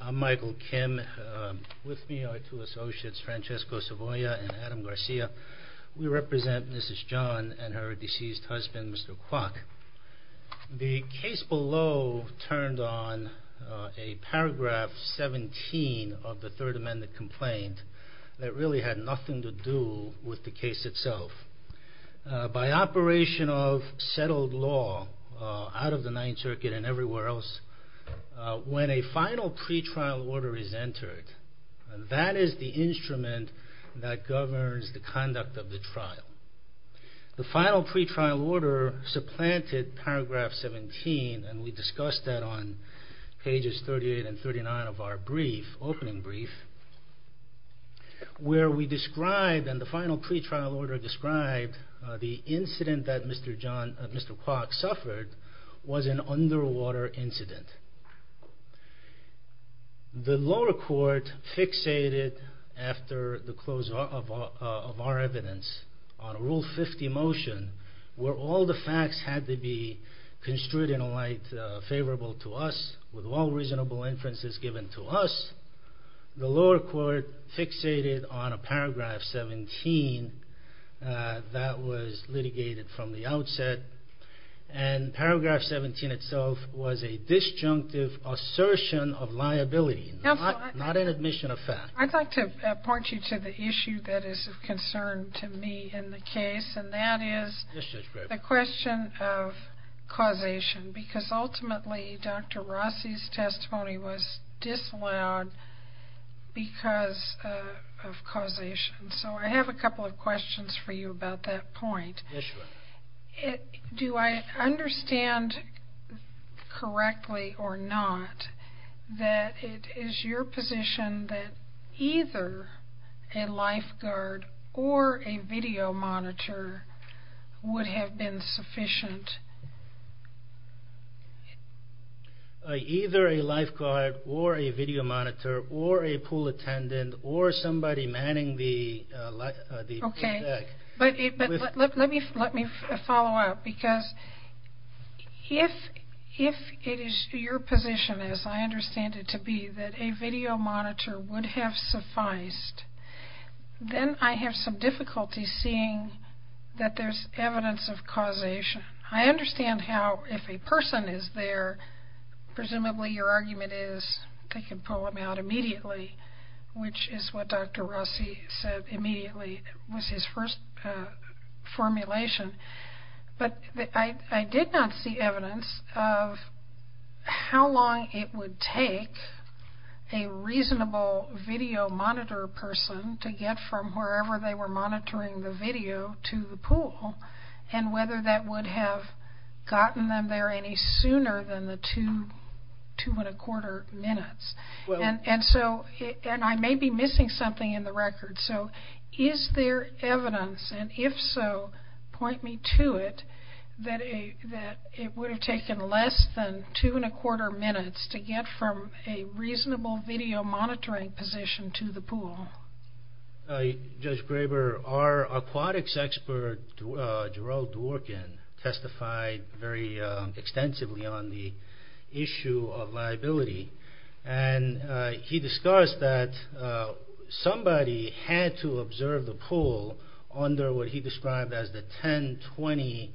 I'm Michael Kim. With me are two associates, Francesco Savoia and Adam Garcia. We represent Mrs. Jeon and her deceased husband, Mr. Kwok. The case below turned on a paragraph 17 of the Third Amendment complaint that really had nothing to do with the case itself. By operation of settled law out of the Ninth Circuit and everywhere else, when a final pretrial order is entered, that is the instrument that governs the conduct of the trial. The final pretrial order supplanted paragraph 17, and we discussed that on pages 38 and 39 of our opening brief, where we described, and the final pretrial order described, the incident that Mr. Kwok suffered was an underwater incident. The lower court fixated, after the close of our evidence, on a Rule 50 motion, where all the facts had to be construed in a way favorable to us, with all reasonable inferences given to us. The lower court fixated on a paragraph 17 that was litigated from the outset, and paragraph 17 itself was a disjunctive assertion of liability, not an admission of fact. I'd like to point you to the issue that is of concern to me in the case, and that is the question of causation, because ultimately Dr. Rossi's testimony was disallowed because of causation. So I have a couple of questions for you about that point. Do I understand correctly or not that it is your position that either a lifeguard or a video monitor would have been sufficient? Either a lifeguard or a video monitor or a pool attendant or somebody manning the deck. Let me follow up, because if it is your position, as I understand it to be, that a video monitor would have sufficed, then I have some difficulty seeing that there's evidence of causation. I understand how if a person is there, presumably your argument is they can pull them out immediately, which is what Dr. Rossi said immediately was his first formulation, but I did not see evidence of how long it would take a reasonable video monitor person to get from wherever they were monitoring the video to the pool, and whether that would have gotten them there any sooner than the two and a quarter minutes. And I may be missing something in the record, so is there evidence, and if so, point me to it, that it would have taken less than two and a quarter minutes to get from a reasonable video monitoring position to the pool? Judge Graber, our aquatics expert, Gerald Dworkin, testified very extensively on the issue of liability, and he discussed that somebody had to observe the pool under what he described as the 1020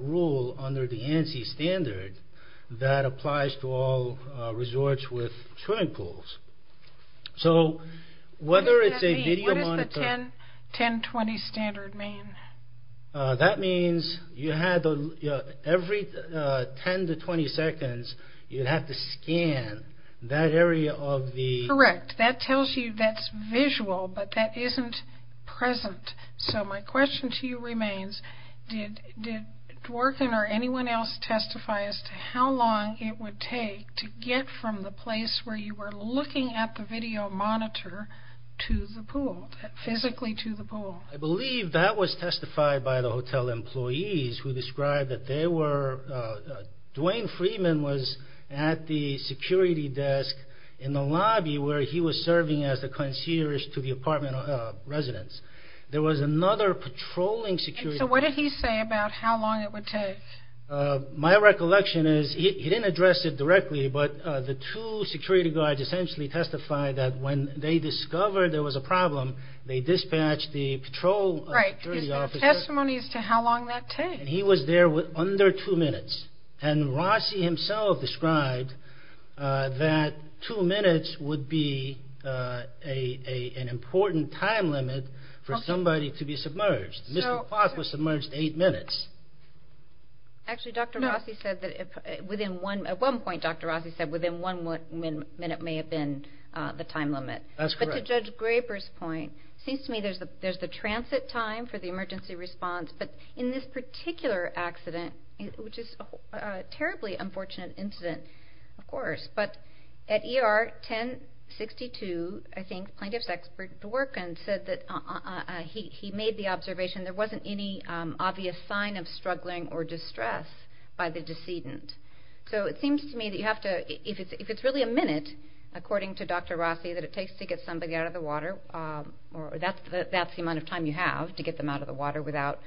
rule under the ANSI standard that applies to all resorts with swimming pools. So whether it's a video monitor... What does the 1020 standard mean? That means every 10 to 20 seconds, you have to scan that area of the... So he was looking at the video monitor to the pool, physically to the pool. I believe that was testified by the hotel employees who described that they were... Dwayne Freeman was at the security desk in the lobby where he was serving as the concierge to the apartment residents. There was another patrolling security... So what did he say about how long it would take? My recollection is he didn't address it directly, but the two security guards essentially testified that when they discovered there was a problem, they dispatched the patrol security officer... Right. Is there a testimony as to how long that takes? He was there with under two minutes, and Rossi himself described that two minutes would be an important time limit for somebody to be submerged. Mr. Potts was submerged eight minutes. Actually, Dr. Rossi said that at one point, Dr. Rossi said within one minute may have been the time limit. That's correct. But to Judge Graber's point, it seems to me there's the transit time for the emergency response, but in this particular accident, which is a terribly unfortunate incident, of course, but at ER 1062, I think plaintiff's expert Dworkin said that he made the observation there wasn't any obvious sign of struggling or distress by the decedent. So it seems to me that if it's really a minute, according to Dr. Rossi, that it takes to get somebody out of the water, that's the amount of time you have to get them out of the water without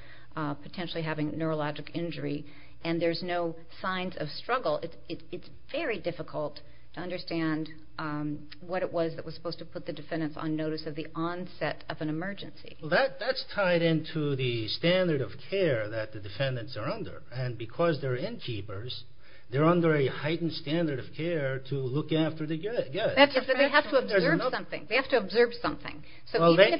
potentially having neurologic injury, and there's no signs of struggle. It's very difficult to understand what it was that was supposed to put the defendants on notice of the onset of an emergency. That's tied into the standard of care that the defendants are under, and because they're innkeepers, they're under a heightened standard of care to look after the guests. They have to observe something. So even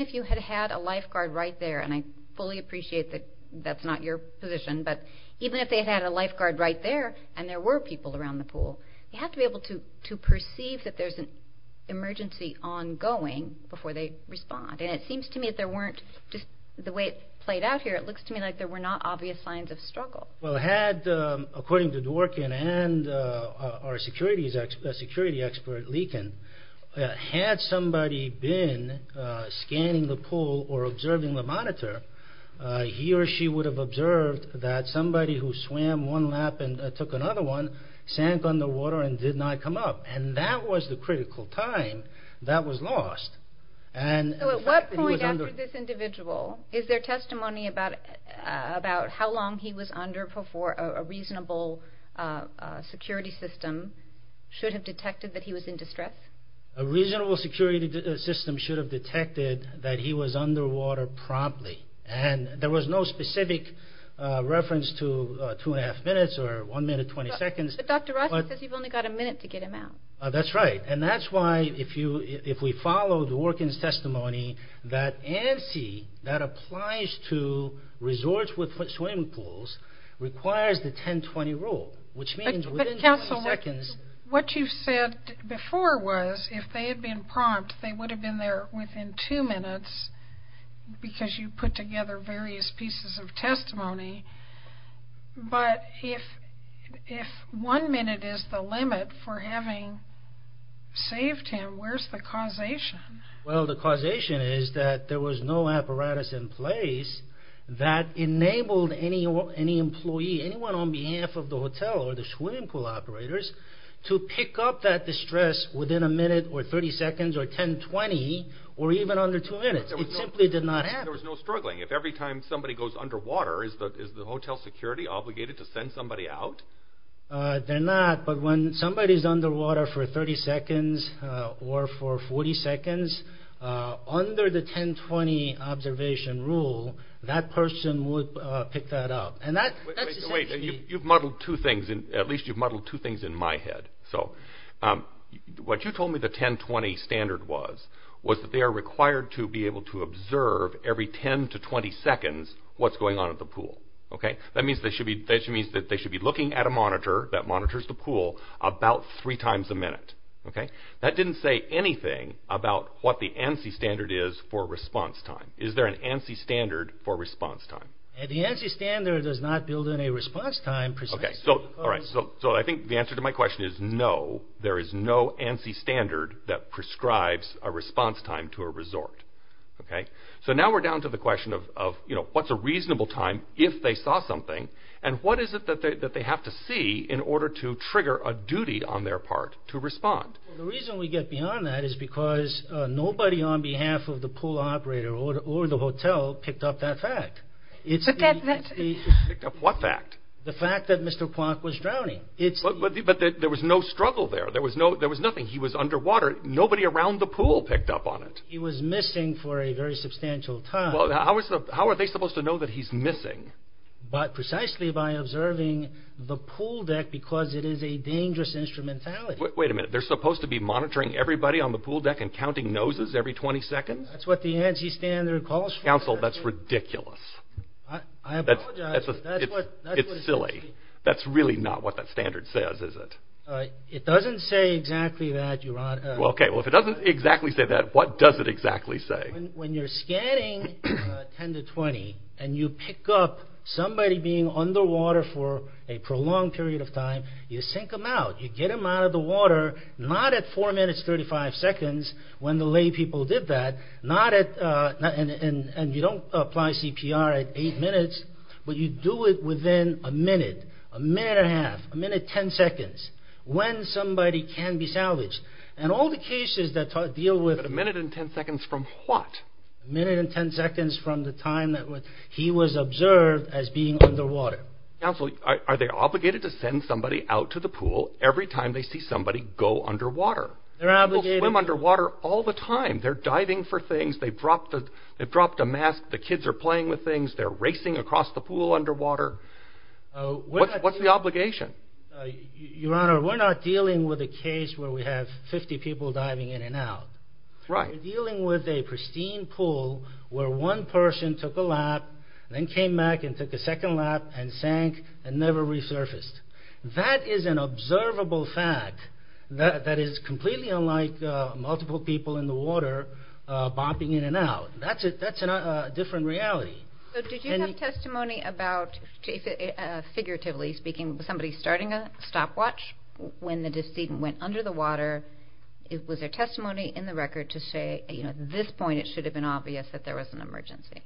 if you had a lifeguard right there, and I fully appreciate that that's not your position, but even if they had a lifeguard right there and there were people around the pool, you have to be able to perceive that there's an emergency ongoing before they respond. And it seems to me that there weren't, just the way it played out here, it looks to me like there were not obvious signs of struggle. Well, according to Dworkin and our security expert, Leakin, had somebody been scanning the pool or observing the monitor, he or she would have observed that somebody who swam one lap and took another one sank underwater and did not come up. And that was the critical time that was lost. So at what point after this individual, is there testimony about how long he was under before a reasonable security system should have detected that he was in distress? A reasonable security system should have detected that he was underwater promptly. And there was no specific reference to two and a half minutes or one minute, 20 seconds. But Dr. Roscoe says you've only got a minute to get him out. That's right. And that's why if we follow Dworkin's testimony, that ANSI, that applies to resorts with swimming pools, requires the 10-20 rule. Which means within 20 seconds... What you've said before was if they had been prompt, they would have been there within two minutes because you put together various pieces of testimony. But if one minute is the limit for having saved him, where's the causation? Well, the causation is that there was no apparatus in place that enabled any employee, anyone on behalf of the hotel or the swimming pool operators, to pick up that distress within a minute or 30 seconds or 10-20 or even under two minutes. It simply did not happen. There was no struggling. If every time somebody goes underwater, is the hotel security obligated to send somebody out? They're not. But when somebody's underwater for 30 seconds or for 40 seconds, under the 10-20 observation rule, that person would pick that up. And that's essentially... Wait. You've muddled two things. At least you've muddled two things in my head. What you told me the 10-20 standard was, was that they are required to be able to observe every 10 to 20 seconds what's going on at the pool. That means that they should be looking at a monitor that monitors the pool about three times a minute. That didn't say anything about what the ANSI standard is for response time. Is there an ANSI standard for response time? The ANSI standard does not build in a response time... So I think the answer to my question is no. There is no ANSI standard that prescribes a response time to a resort. So now we're down to the question of what's a reasonable time if they saw something, and what is it that they have to see in order to trigger a duty on their part to respond? The reason we get beyond that is because nobody on behalf of the pool operator or the hotel picked up that fact. Picked up what fact? The fact that Mr. Plonk was drowning. But there was no struggle there. There was nothing. He was underwater. Nobody around the pool picked up on it. He was missing for a very substantial time. How are they supposed to know that he's missing? But precisely by observing the pool deck because it is a dangerous instrumentality. Wait a minute. They're supposed to be monitoring everybody on the pool deck and counting noses every 20 seconds? That's what the ANSI standard calls for. Counsel, that's ridiculous. I apologize. It's silly. That's really not what that standard says, is it? It doesn't say exactly that. Okay. Well, if it doesn't exactly say that, what does it exactly say? When you're scanning 10 to 20 and you pick up somebody being underwater for a prolonged period of time, you sink them out. You get them out of the water, not at 4 minutes 35 seconds when the laypeople did that, and you don't apply CPR at 8 minutes, but you do it within a minute, a minute and a half, a minute 10 seconds when somebody can be salvaged. And all the cases that deal with... A minute and 10 seconds from what? A minute and 10 seconds from the time that he was observed as being underwater. Counsel, are they obligated to send somebody out to the pool every time they see somebody go underwater? People swim underwater all the time. They're diving for things, they've dropped a mask, the kids are playing with things, they're racing across the pool underwater. What's the obligation? Your Honor, we're not dealing with a case where we have 50 people diving in and out. Right. We're dealing with a pristine pool where one person took a lap, then came back and took a second lap and sank and never resurfaced. That is an observable fact that is completely unlike multiple people in the water bopping in and out. That's a different reality. Did you have testimony about, figuratively speaking, somebody starting a stopwatch when the decedent went under the water? Was there testimony in the record to say at this point it should have been obvious that there was an emergency?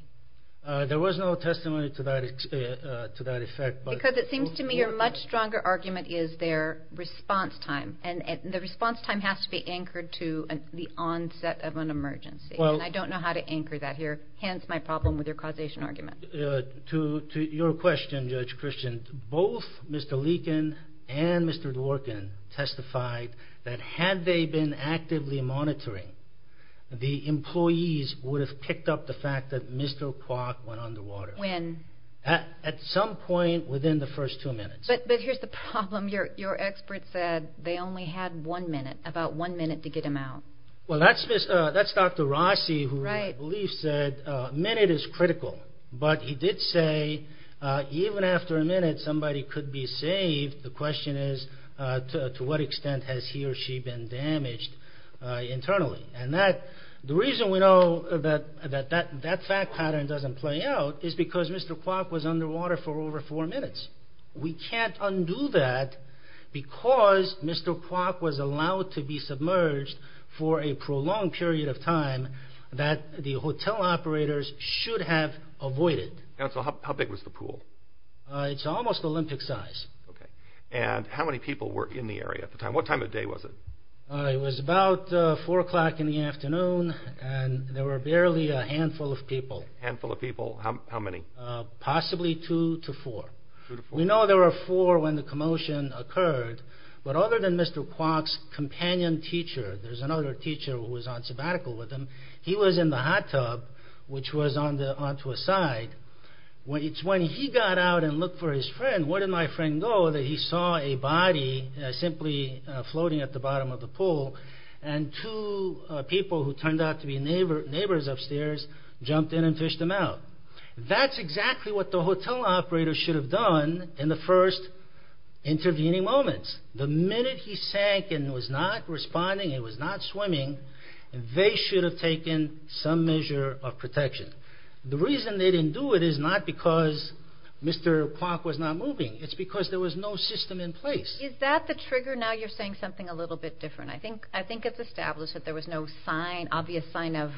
There was no testimony to that effect. Because it seems to me your much stronger argument is their response time. And the response time has to be anchored to the onset of an emergency. And I don't know how to anchor that here, hence my problem with your causation argument. To your question, Judge Christian, both Mr. Leakin and Mr. Dworkin testified that had they been actively monitoring, the employees would have picked up the fact that Mr. Kwok went underwater. When? At some point within the first two minutes. But here's the problem. Your expert said they only had one minute, about one minute to get him out. Well, that's Dr. Rossi who I believe said a minute is critical. But he did say even after a minute somebody could be saved. The question is to what extent has he or she been damaged internally. And the reason we know that that fact pattern doesn't play out is because Mr. Kwok was underwater for over four minutes. We can't undo that because Mr. Kwok was allowed to be submerged for a prolonged period of time that the hotel operators should have avoided. Counsel, how big was the pool? It's almost Olympic size. Okay. And how many people were in the area at the time? What time of day was it? It was about four o'clock in the afternoon and there were barely a handful of people. Handful of people. How many? Possibly two to four. Two to four. We know there were four when the commotion occurred. But other than Mr. Kwok's companion teacher, there's another teacher who was on sabbatical with him. He was in the hot tub which was onto a side. When he got out and looked for his friend, where did my friend go, that he saw a body simply floating at the bottom of the pool. And two people who turned out to be neighbors upstairs jumped in and fished him out. That's exactly what the hotel operators should have done in the first intervening moments. The minute he sank and was not responding, he was not swimming, they should have taken some measure of protection. The reason they didn't do it is not because Mr. Kwok was not moving. It's because there was no system in place. Is that the trigger? Now you're saying something a little bit different. I think it's established that there was no obvious sign of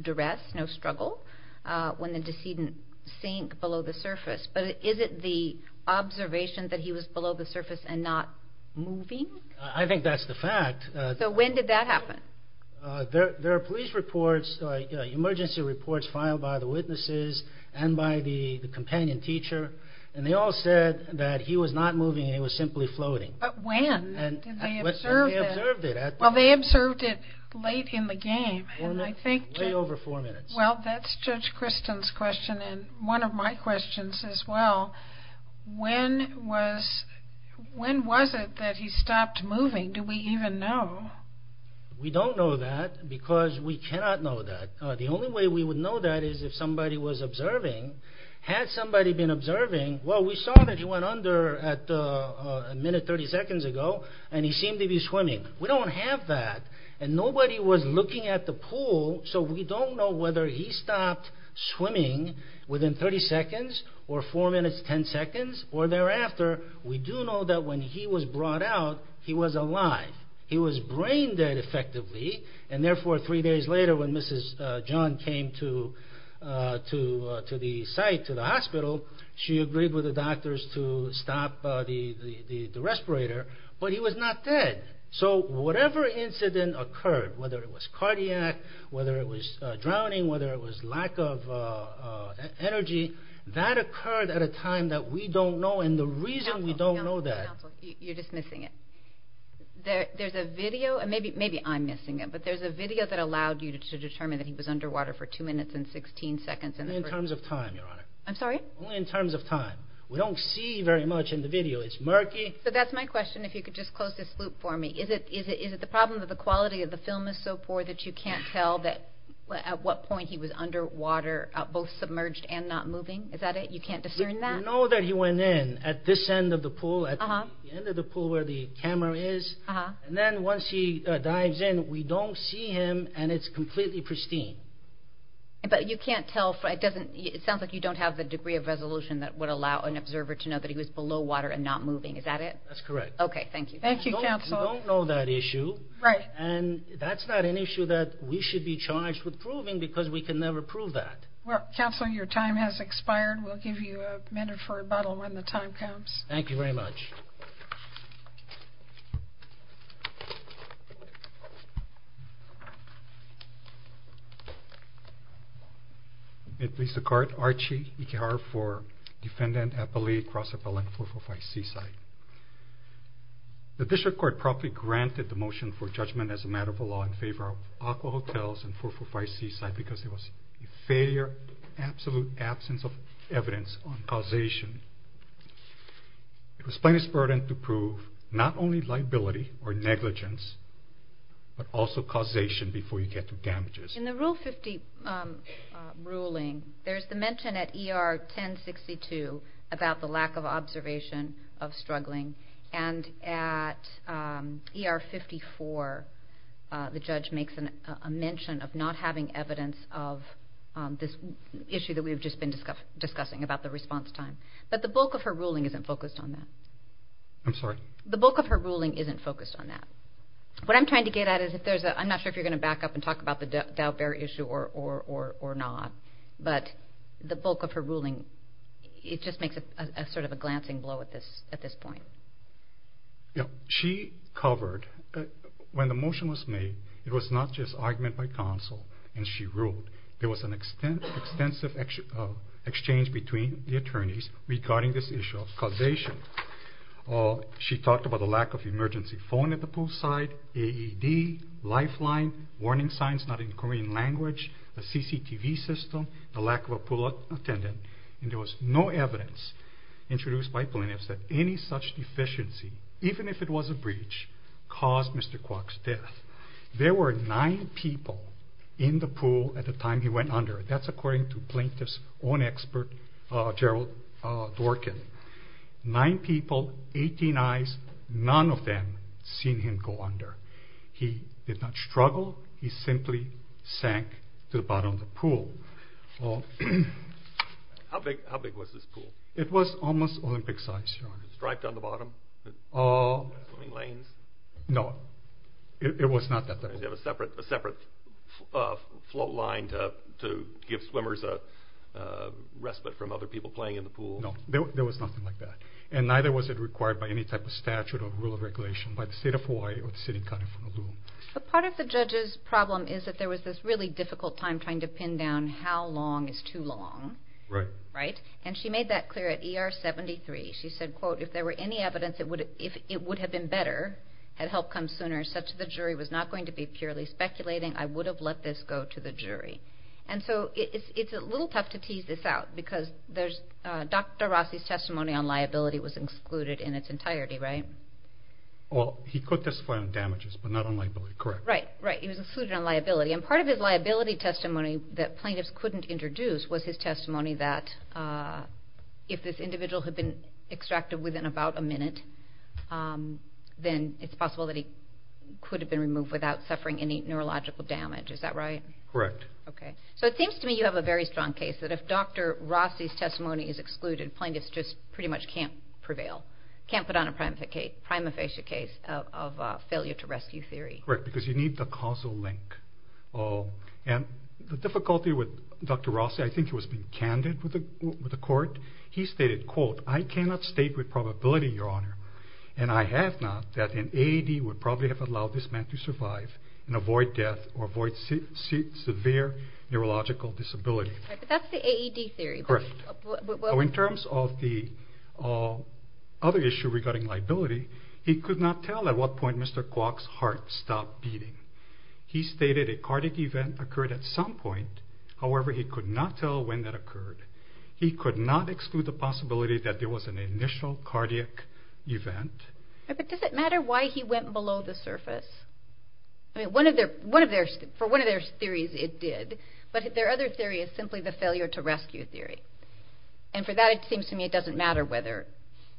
duress, no struggle, when the decedent sank below the surface. But is it the observation that he was below the surface and not moving? I think that's the fact. So when did that happen? There are police reports, emergency reports filed by the witnesses and by the companion teacher. And they all said that he was not moving, he was simply floating. But when? They observed it late in the game. Way over four minutes. Well, that's Judge Kristen's question and one of my questions as well. When was it that he stopped moving? Do we even know? We don't know that because we cannot know that. The only way we would know that is if somebody was observing. Had somebody been observing, well, we saw that he went under a minute, 30 seconds ago and he seemed to be swimming. We don't have that. And nobody was looking at the pool, so we don't know whether he stopped swimming within 30 seconds or four minutes, 10 seconds or thereafter. We do know that when he was brought out, he was alive. He was brain dead effectively and therefore three days later when Mrs. John came to the site, to the hospital, she agreed with the doctors to stop the respirator, but he was not dead. So whatever incident occurred, whether it was cardiac, whether it was drowning, whether it was lack of energy, that occurred at a time that we don't know and the reason we don't know that... Maybe I'm missing it, but there's a video that allowed you to determine that he was underwater for two minutes and 16 seconds. Only in terms of time, Your Honor. I'm sorry? Only in terms of time. We don't see very much in the video. It's murky. So that's my question, if you could just close this loop for me. Is it the problem that the quality of the film is so poor that you can't tell at what point he was underwater, both submerged and not moving? Is that it? You can't discern that? We know that he went in at this end of the pool, at the end of the pool where the camera is. And then once he dives in, we don't see him and it's completely pristine. But you can't tell, it sounds like you don't have the degree of resolution that would allow an observer to know that he was below water and not moving. Is that it? That's correct. Okay, thank you. Thank you, Counsel. We don't know that issue. Right. And that's not an issue that we should be charged with proving because we can never prove that. Counsel, your time has expired. We'll give you a minute for rebuttal when the time comes. Thank you very much. It please the Court, Archie Ikehara for Defendant Appellee Cross Appellant 445 Seaside. The District Court properly granted the motion for judgment as a matter of law in favor of Aqua Hotels and 445 Seaside because there was a failure, absolute absence of evidence on causation. It was plaintiff's burden to prove not only liability or negligence, but also causation before you get to damages. In the Rule 50 ruling, there's the mention at ER 1062 about the lack of observation of struggling. And at ER 54, the judge makes a mention of not having evidence of this issue that we've just been discussing about the response time. But the bulk of her ruling isn't focused on that. I'm sorry? The bulk of her ruling isn't focused on that. What I'm trying to get at is, I'm not sure if you're going to back up and talk about the Daubert issue or not, but the bulk of her ruling, it just makes sort of a glancing blow at this point. She covered, when the motion was made, it was not just argument by counsel and she ruled. There was an extensive exchange between the attorneys regarding this issue of causation. She talked about the lack of emergency phone at the poolside, AED, lifeline, warning signs not in Korean language, a CCTV system, the lack of a pool attendant. And there was no evidence introduced by plaintiffs that any such deficiency, even if it was a breach, caused Mr. Kwok's death. There were nine people in the pool at the time he went under. That's according to plaintiff's own expert, Gerald Dworkin. Nine people, 18 eyes, none of them seen him go under. He did not struggle, he simply sank to the bottom of the pool. How big was this pool? It was almost Olympic size. Striped on the bottom? No, it was not that big. A separate float line to give swimmers a respite from other people playing in the pool? No, there was nothing like that. And neither was it required by any type of statute or rule of regulation by the state of Hawaii or the city of Honolulu. But part of the judge's problem is that there was this really difficult time trying to pin down how long is too long. Right. And she made that clear at ER 73. She said, quote, if there were any evidence it would have been better, had help come sooner, such that the jury was not going to be purely speculating, I would have let this go to the jury. And so it's a little tough to tease this out because Dr. Rossi's testimony on liability was excluded in its entirety, right? Well, he could testify on damages, but not on liability. Correct. Right. He was excluded on liability. And part of his liability testimony that plaintiffs couldn't introduce was his testimony that if this individual had been extracted within about a minute, then it's possible that he could have been removed without suffering any neurological damage. Is that right? Correct. Okay. So it seems to me you have a very strong case that if Dr. Rossi's testimony is excluded, plaintiffs just pretty much can't prevail, can't put on a prima facie case of failure to rescue theory. Correct, because you need the causal link. And the difficulty with Dr. Rossi, I think he was being candid with the court, he stated, quote, I cannot state with probability, your honor, and I have not, that an AED would probably have allowed this man to survive and avoid death or avoid severe neurological disability. Right, but that's the AED theory. Correct. In terms of the other issue regarding liability, he could not tell at what point Mr. Kwok's heart stopped beating. He stated a cardiac event occurred at some point. However, he could not tell when that occurred. He could not exclude the possibility that there was an initial cardiac event. But does it matter why he went below the surface? For one of their theories it did, but their other theory is simply the failure to rescue theory. And for that it seems to me it doesn't matter whether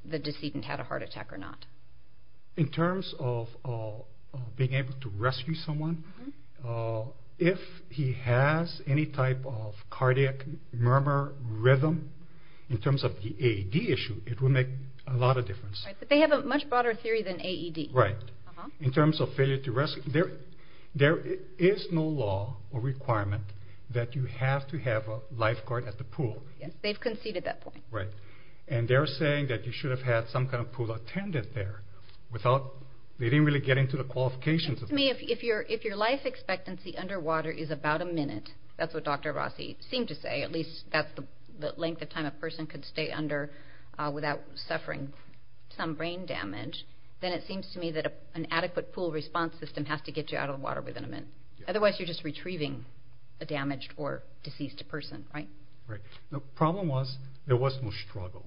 the decedent had a heart attack or not. In terms of being able to rescue someone, if he has any type of cardiac murmur rhythm, in terms of the AED issue, it would make a lot of difference. Right, but they have a much broader theory than AED. Right. In terms of failure to rescue, there is no law or requirement that you have to have a lifeguard at the pool. Yes, they've conceded that point. Right. And they're saying that you should have had some kind of pool attendant there. They didn't really get into the qualifications. If your life expectancy underwater is about a minute, that's what Dr. Rossi seemed to say, at least that's the length of time a person could stay under without suffering some brain damage, then it seems to me that an adequate pool response system has to get you out of the water within a minute. Otherwise you're just retrieving a damaged or deceased person, right? Right. The problem was there was no struggle.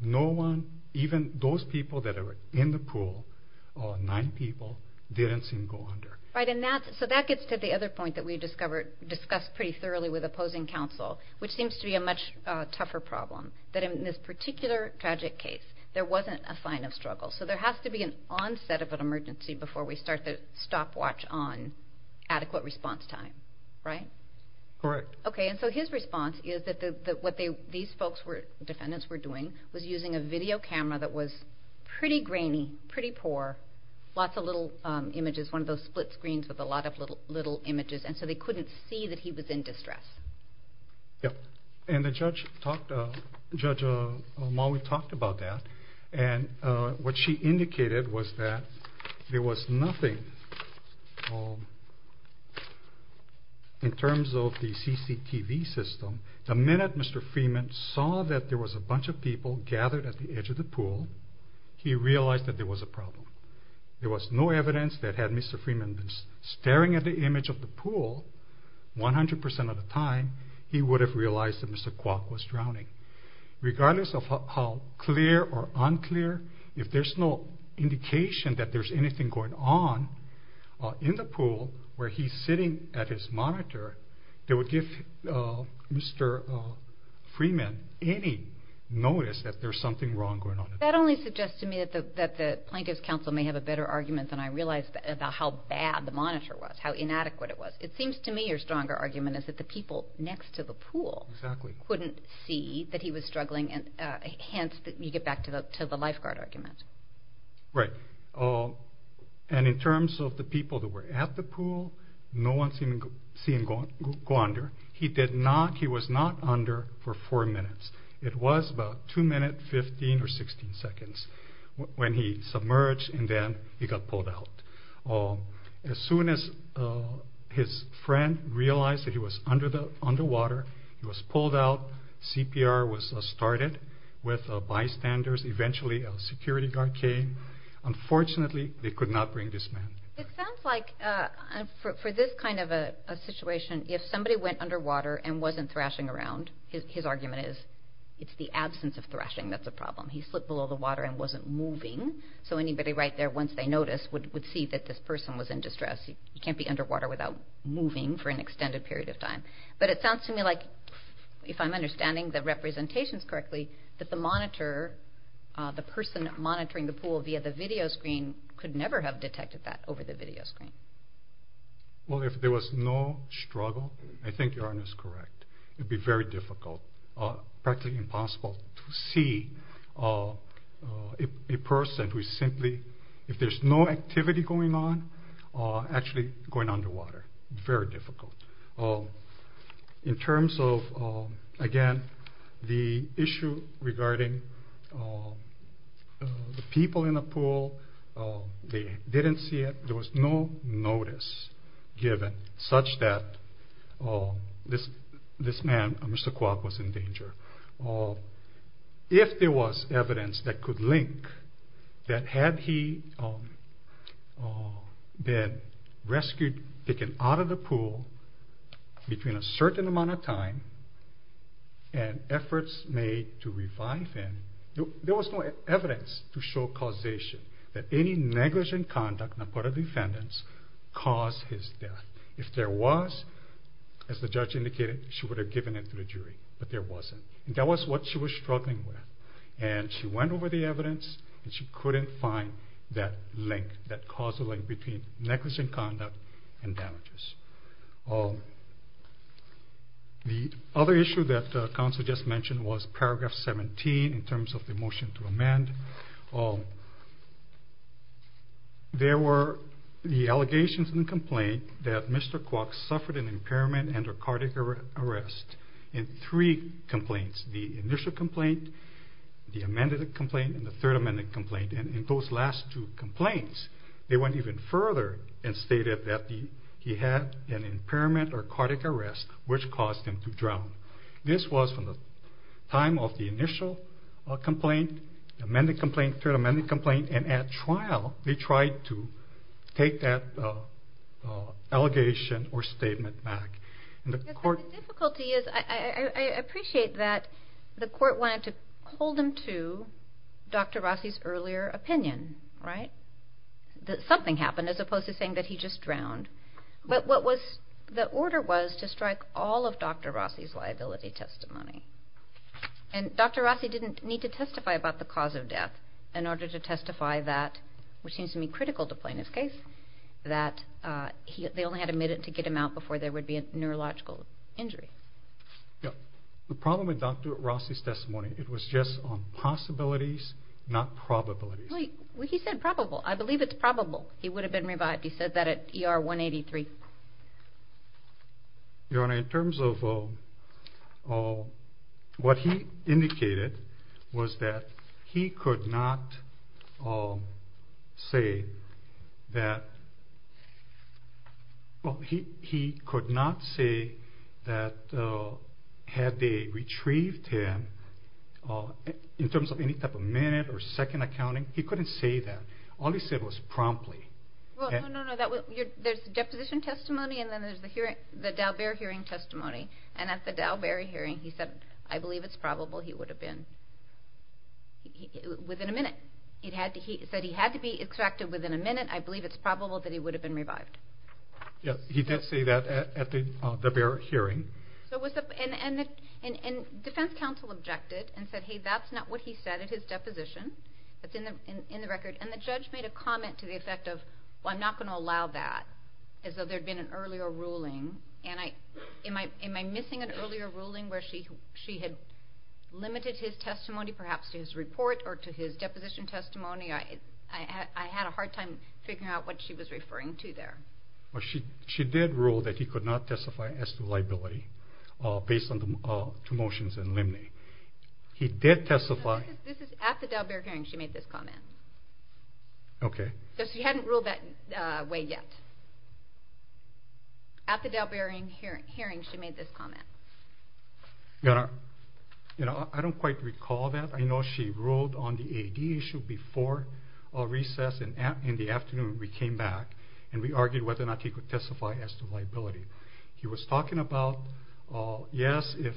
No one, even those people that were in the pool, nine people, didn't seem to go under. Right. So that gets to the other point that we discussed pretty thoroughly with opposing counsel, which seems to be a much tougher problem, that in this particular tragic case there wasn't a sign of struggle. So there has to be an onset of an emergency before we start to stopwatch on adequate response time, right? Correct. Okay, and so his response is that what these folks, defendants, were doing was using a video camera that was pretty grainy, pretty poor, lots of little images, one of those split screens with a lot of little images, and so they couldn't see that he was in distress. Yep. And the Judge Maui talked about that, and what she indicated was that there was nothing in terms of the CCTV system. The minute Mr. Freeman saw that there was a bunch of people gathered at the edge of the pool, there was no evidence that had Mr. Freeman been staring at the image of the pool 100% of the time, he would have realized that Mr. Kwok was drowning. Regardless of how clear or unclear, if there's no indication that there's anything going on in the pool where he's sitting at his monitor, that would give Mr. Freeman any notice that there's something wrong going on. That only suggests to me that the Plaintiff's Counsel may have a better argument than I realized about how bad the monitor was, how inadequate it was. It seems to me your stronger argument is that the people next to the pool couldn't see that he was struggling, hence you get back to the lifeguard argument. Right, and in terms of the people that were at the pool, no one seen him go under. He did not, he was not under for four minutes. It was about two minutes, 15 or 16 seconds when he submerged and then he got pulled out. As soon as his friend realized that he was underwater, he was pulled out. CPR was started with bystanders. Eventually a security guard came. Unfortunately, they could not bring this man. It sounds like for this kind of a situation, if somebody went underwater and wasn't thrashing around, his argument is it's the absence of thrashing that's a problem. He slipped below the water and wasn't moving, so anybody right there, once they noticed, would see that this person was in distress. He can't be underwater without moving for an extended period of time. But it sounds to me like, if I'm understanding the representations correctly, that the monitor, the person monitoring the pool via the video screen, could never have detected that over the video screen. Well, if there was no struggle, I think Yarn is correct. It would be very difficult, practically impossible, to see a person who is simply, if there's no activity going on, actually going underwater. Very difficult. In terms of, again, the issue regarding the people in the pool, they didn't see it, there was no notice given such that this man, Mr. Kwok, was in danger. If there was evidence that could link that had he been rescued, taken out of the pool between a certain amount of time and efforts made to revive him, there was no evidence to show causation that any negligent conduct on the part of the defendants caused his death. If there was, as the judge indicated, she would have given it to the jury. But there wasn't. And that was what she was struggling with. And she went over the evidence, and she couldn't find that link, that causal link between negligent conduct and damages. The other issue that counsel just mentioned was paragraph 17 in terms of the motion to amend. There were the allegations in the complaint that Mr. Kwok suffered an impairment and a cardiac arrest in three complaints, the initial complaint, the amended complaint, and the third amended complaint. And in those last two complaints, they went even further and stated that he had an impairment This was from the time of the initial complaint, amended complaint, third amended complaint, and at trial they tried to take that allegation or statement back. The difficulty is I appreciate that the court wanted to hold him to Dr. Rossi's earlier opinion, right? That something happened as opposed to saying that he just drowned. But the order was to strike all of Dr. Rossi's liability testimony. And Dr. Rossi didn't need to testify about the cause of death in order to testify that, which seems to me critical to plaintiff's case, that they only had a minute to get him out before there would be a neurological injury. The problem with Dr. Rossi's testimony, it was just on possibilities, not probabilities. He said probable. I believe it's probable he would have been revived. He said that at ER 183. Your Honor, in terms of what he indicated was that he could not say that had they retrieved him, in terms of any type of minute or second accounting, he couldn't say that. All he said was promptly. Well, no, no, no. There's the deposition testimony and then there's the Dalbert hearing testimony. And at the Dalbert hearing he said, I believe it's probable he would have been, within a minute. He said he had to be extracted within a minute. I believe it's probable that he would have been revived. Yes, he did say that at the Dalbert hearing. And defense counsel objected and said, hey, that's not what he said at his deposition. That's in the record. And the judge made a comment to the effect of, well, I'm not going to allow that, as though there had been an earlier ruling. And am I missing an earlier ruling where she had limited his testimony perhaps to his report or to his deposition testimony? I had a hard time figuring out what she was referring to there. Well, she did rule that he could not testify as to liability based on the two motions in limine. He did testify. No, this is at the Dalbert hearing she made this comment. Okay. She hadn't ruled that way yet. At the Dalbert hearing she made this comment. You know, I don't quite recall that. I know she ruled on the AD issue before recess and in the afternoon we came back and we argued whether or not he could testify as to liability. He was talking about, yes, if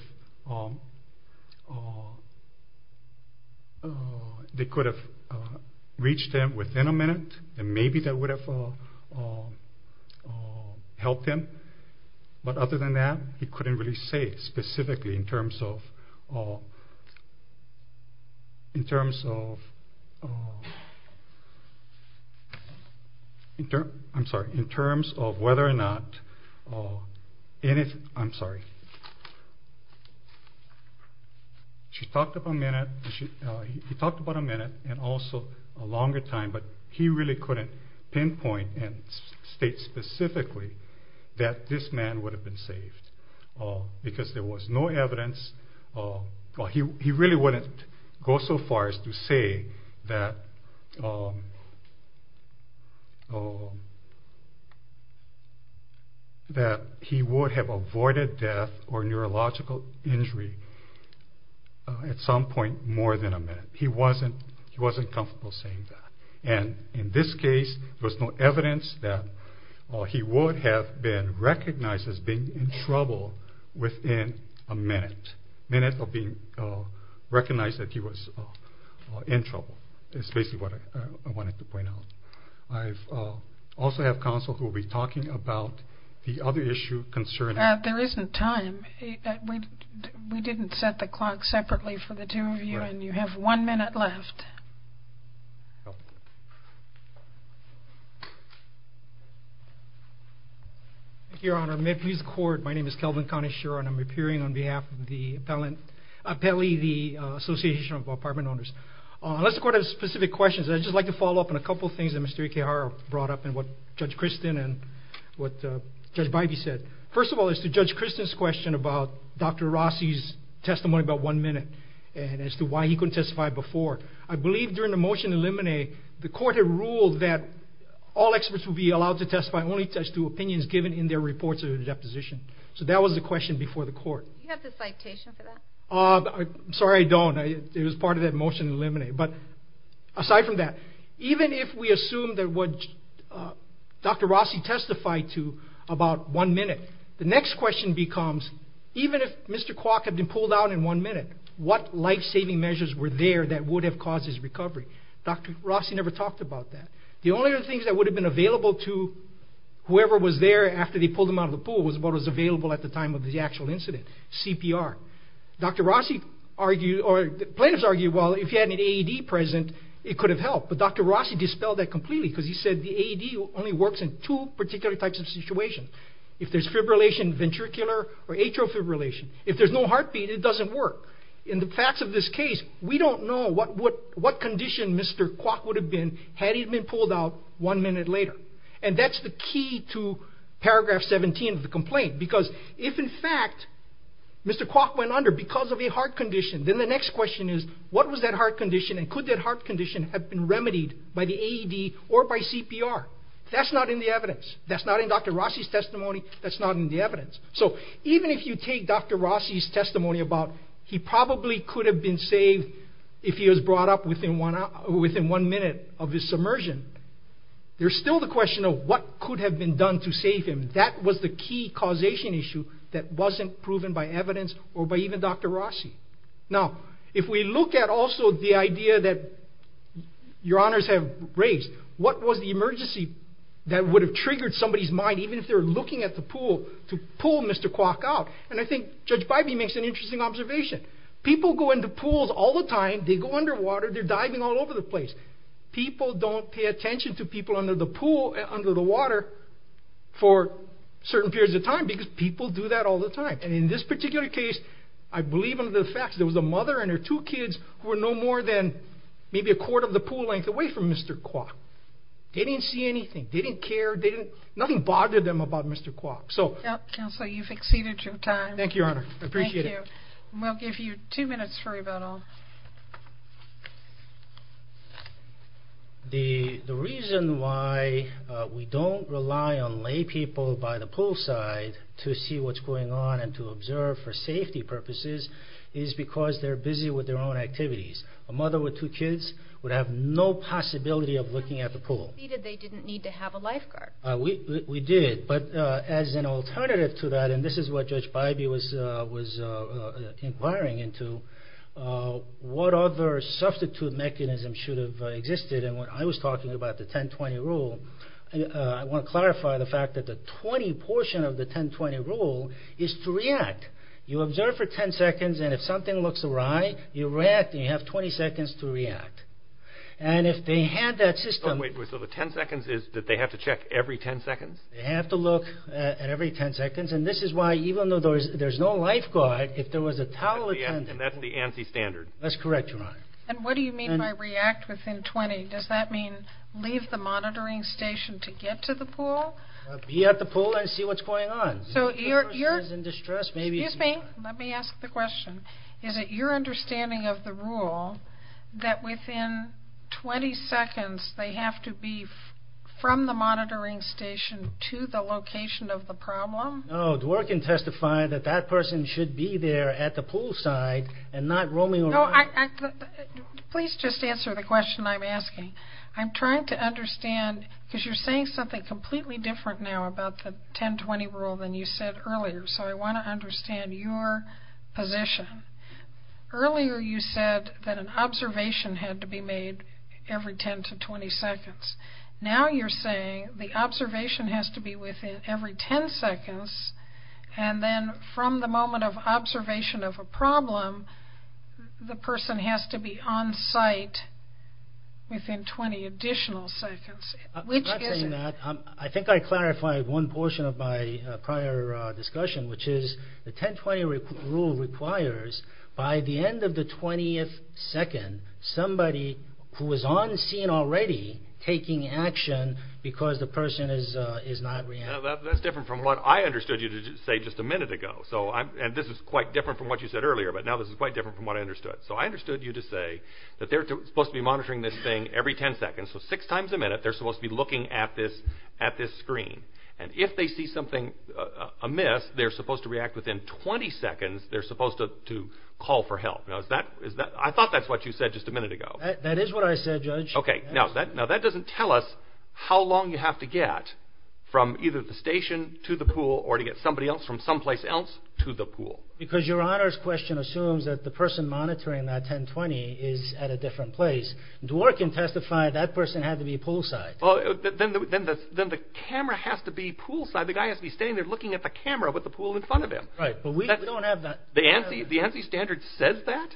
they could have reached him within a minute and maybe that would have helped him. But other than that, he couldn't really say specifically in terms of whether or not anything, I'm sorry, she talked about a minute, he talked about a minute and also a longer time, but he really couldn't pinpoint and state specifically that this man would have been saved because there was no evidence. He really wouldn't go so far as to say that he would have avoided death or neurological injury at some point more than a minute. He wasn't comfortable saying that. And in this case there was no evidence that he would have been recognized as being in trouble within a minute. A minute of being recognized that he was in trouble is basically what I wanted to point out. I also have counsel who will be talking about the other issue concerning. There isn't time. We didn't set the clock separately for the two of you and you have one minute left. Thank you, Your Honor. May it please the Court, my name is Kelvin Kaneshiro and I'm appearing on behalf of the Appellee Association of Apartment Owners. Let's go to specific questions. I'd just like to follow up on a couple of things that Mr. Ikehara brought up and what Judge Christin and what Judge Bybee said. First of all, as to Judge Christin's question about Dr. Rossi's testimony about one minute and as to why he couldn't testify before, I believe during the motion to eliminate, the Court had ruled that all experts would be allowed to testify only as to opinions given in their reports of the deposition. So that was the question before the Court. Do you have the citation for that? Sorry, I don't. It was part of that motion to eliminate. But aside from that, even if we assume that what Dr. Rossi testified to about one minute, the next question becomes, even if Mr. Kwok had been pulled out in one minute, what life-saving measures were there that would have caused his recovery? Dr. Rossi never talked about that. The only other things that would have been available to whoever was there after they pulled him out of the pool was what was available at the time of the actual incident, CPR. Plaintiffs argued, well, if he had an AED present, it could have helped. But Dr. Rossi dispelled that completely because he said the AED only works in two particular types of situations. If there's fibrillation ventricular or atrial fibrillation. If there's no heartbeat, it doesn't work. In the facts of this case, we don't know what condition Mr. Kwok would have been had he been pulled out one minute later. And that's the key to paragraph 17 of the complaint. Because if, in fact, Mr. Kwok went under because of a heart condition, then the next question is, what was that heart condition and could that heart condition have been remedied by the AED or by CPR? That's not in the evidence. That's not in Dr. Rossi's testimony. That's not in the evidence. So even if you take Dr. Rossi's testimony about he probably could have been saved if he was brought up within one minute of his submersion, there's still the question of what could have been done to save him. That was the key causation issue that wasn't proven by evidence or by even Dr. Rossi. Now, if we look at also the idea that your honors have raised, what was the emergency that would have triggered somebody's mind, even if they were looking at the pool, to pull Mr. Kwok out? And I think Judge Bybee makes an interesting observation. People go into pools all the time. They go underwater. They're diving all over the place. People don't pay attention to people under the pool, under the water, for certain periods of time because people do that all the time. And in this particular case, I believe under the facts, there was a mother and her two kids who were no more than maybe a quarter of the pool length away from Mr. Kwok. They didn't see anything. They didn't care. Nothing bothered them about Mr. Kwok. Counselor, you've exceeded your time. Thank you, Your Honor. I appreciate it. We'll give you two minutes for rebuttal. The reason why we don't rely on laypeople by the poolside to see what's going on and to observe for safety purposes is because they're busy with their own activities. A mother with two kids would have no possibility of looking at the pool. Counselor, you exceeded. They didn't need to have a lifeguard. We did, but as an alternative to that, and this is what Judge Bybee was inquiring into, what other substitute mechanisms should have existed? And when I was talking about the 10-20 rule, I want to clarify the fact that the 20 portion of the 10-20 rule is to react. You observe for 10 seconds, and if something looks awry, you react and you have 20 seconds to react. And if they had that system... So the 10 seconds is that they have to check every 10 seconds? They have to look at every 10 seconds, and this is why even though there's no lifeguard, if there was a towel attendant... And that's the ANSI standard. That's correct, Your Honor. And what do you mean by react within 20? Does that mean leave the monitoring station to get to the pool? Be at the pool and see what's going on. If the person is in distress, maybe... Excuse me. Let me ask the question. Is it your understanding of the rule that within 20 seconds, they have to be from the monitoring station to the location of the problem? No. Dworkin testified that that person should be there at the pool side and not roaming around. No. Please just answer the question I'm asking. I'm trying to understand, because you're saying something completely different now about the 10-20 rule than you said earlier. So I want to understand your position. Earlier you said that an observation had to be made every 10 to 20 seconds. Now you're saying the observation has to be within every 10 seconds, and then from the moment of observation of a problem, the person has to be on site within 20 additional seconds. I'm not saying that. I think I clarified one portion of my prior discussion, which is the 10-20 rule requires by the end of the 20th second somebody who is on scene already taking action because the person is not reacting. That's different from what I understood you to say just a minute ago. This is quite different from what you said earlier, but now this is quite different from what I understood. So I understood you to say that they're supposed to be monitoring this thing every 10 seconds. So six times a minute they're supposed to be looking at this screen. And if they see something amiss, they're supposed to react within 20 seconds. They're supposed to call for help. I thought that's what you said just a minute ago. That is what I said, Judge. Okay, now that doesn't tell us how long you have to get from either the station to the pool or to get somebody else from someplace else to the pool. Because Your Honor's question assumes that the person monitoring that 10-20 is at a different place. Dworkin testified that person had to be poolside. Then the camera has to be poolside. The guy has to be standing there looking at the camera with the pool in front of him. Right, but we don't have that. The ANSI standard says that?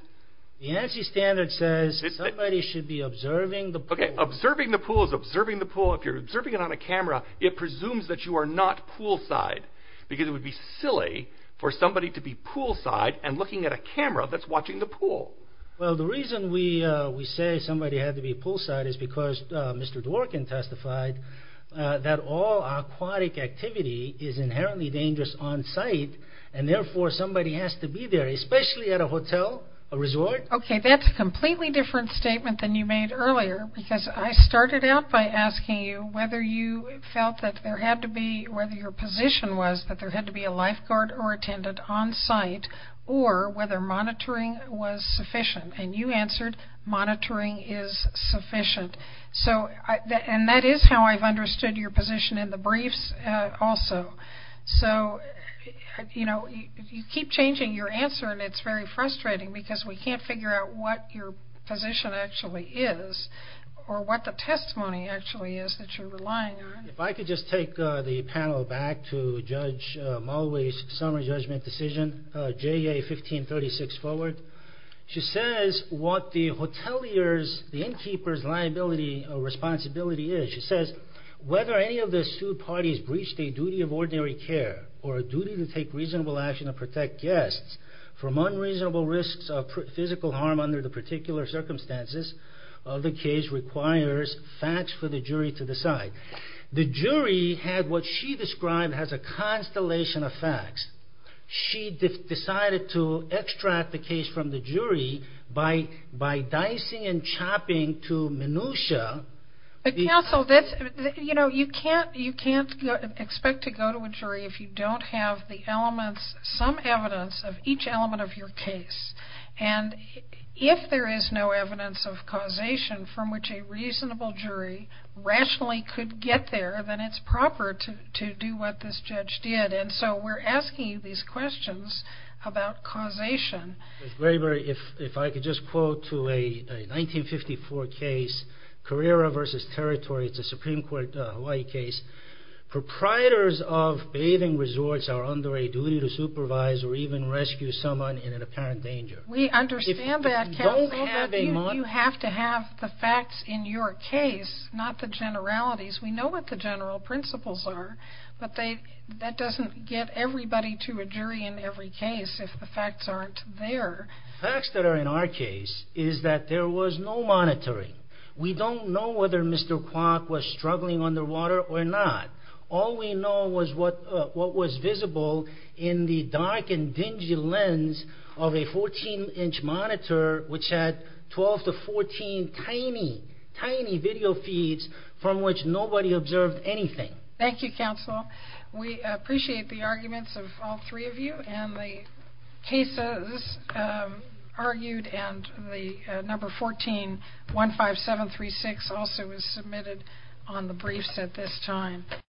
The ANSI standard says somebody should be observing the pool. Okay, observing the pool is observing the pool. If you're observing it on a camera, it presumes that you are not poolside because it would be silly for somebody to be poolside and looking at a camera that's watching the pool. Well, the reason we say somebody had to be poolside is because Mr. Dworkin testified that all aquatic activity is inherently dangerous on site and therefore somebody has to be there, especially at a hotel, a resort. Okay, that's a completely different statement than you made earlier because I started out by asking you whether you felt that there had to be, whether your position was that there had to be a lifeguard or attendant on site or whether monitoring was sufficient. And you answered monitoring is sufficient. And that is how I've understood your position in the briefs also. So, you know, you keep changing your answer and it's very frustrating because we can't figure out what your position actually is or what the testimony actually is that you're relying on. If I could just take the panel back to Judge Mowley's summary judgment decision, JA 1536 forward. She says what the hotelier's, the innkeeper's liability or responsibility is. She says, whether any of the two parties breached a duty of ordinary care or a duty to take reasonable action to protect guests from unreasonable risks of physical harm under the particular circumstances of the case requires facts for the jury to decide. The jury had what she described as a constellation of facts. She decided to extract the case from the jury by dicing and chopping to minutia. But counsel, you know, you can't expect to go to a jury if you don't have the elements, some evidence of each element of your case. And if there is no evidence of causation from which a reasonable jury rationally could get there, then it's proper to do what this judge did. And so we're asking these questions about causation. If I could just quote to a 1954 case, Carrera v. Territory, it's a Supreme Court Hawaii case. Proprietors of bathing resorts are under a duty to supervise or even rescue someone in an apparent danger. We understand that, counsel, but you have to have the facts in your case, not the generalities. We know what the general principles are, but that doesn't get everybody to a jury in every case if the facts aren't there. The facts that are in our case is that there was no monitoring. We don't know whether Mr. Kwok was struggling underwater or not. All we know was what was visible in the dark and dingy lens of a 14-inch monitor which had 12 to 14 tiny, tiny video feeds from which nobody observed anything. Thank you, counsel. We appreciate the arguments of all three of you and the cases argued and the number 14-15736 also was submitted on the briefs at this time.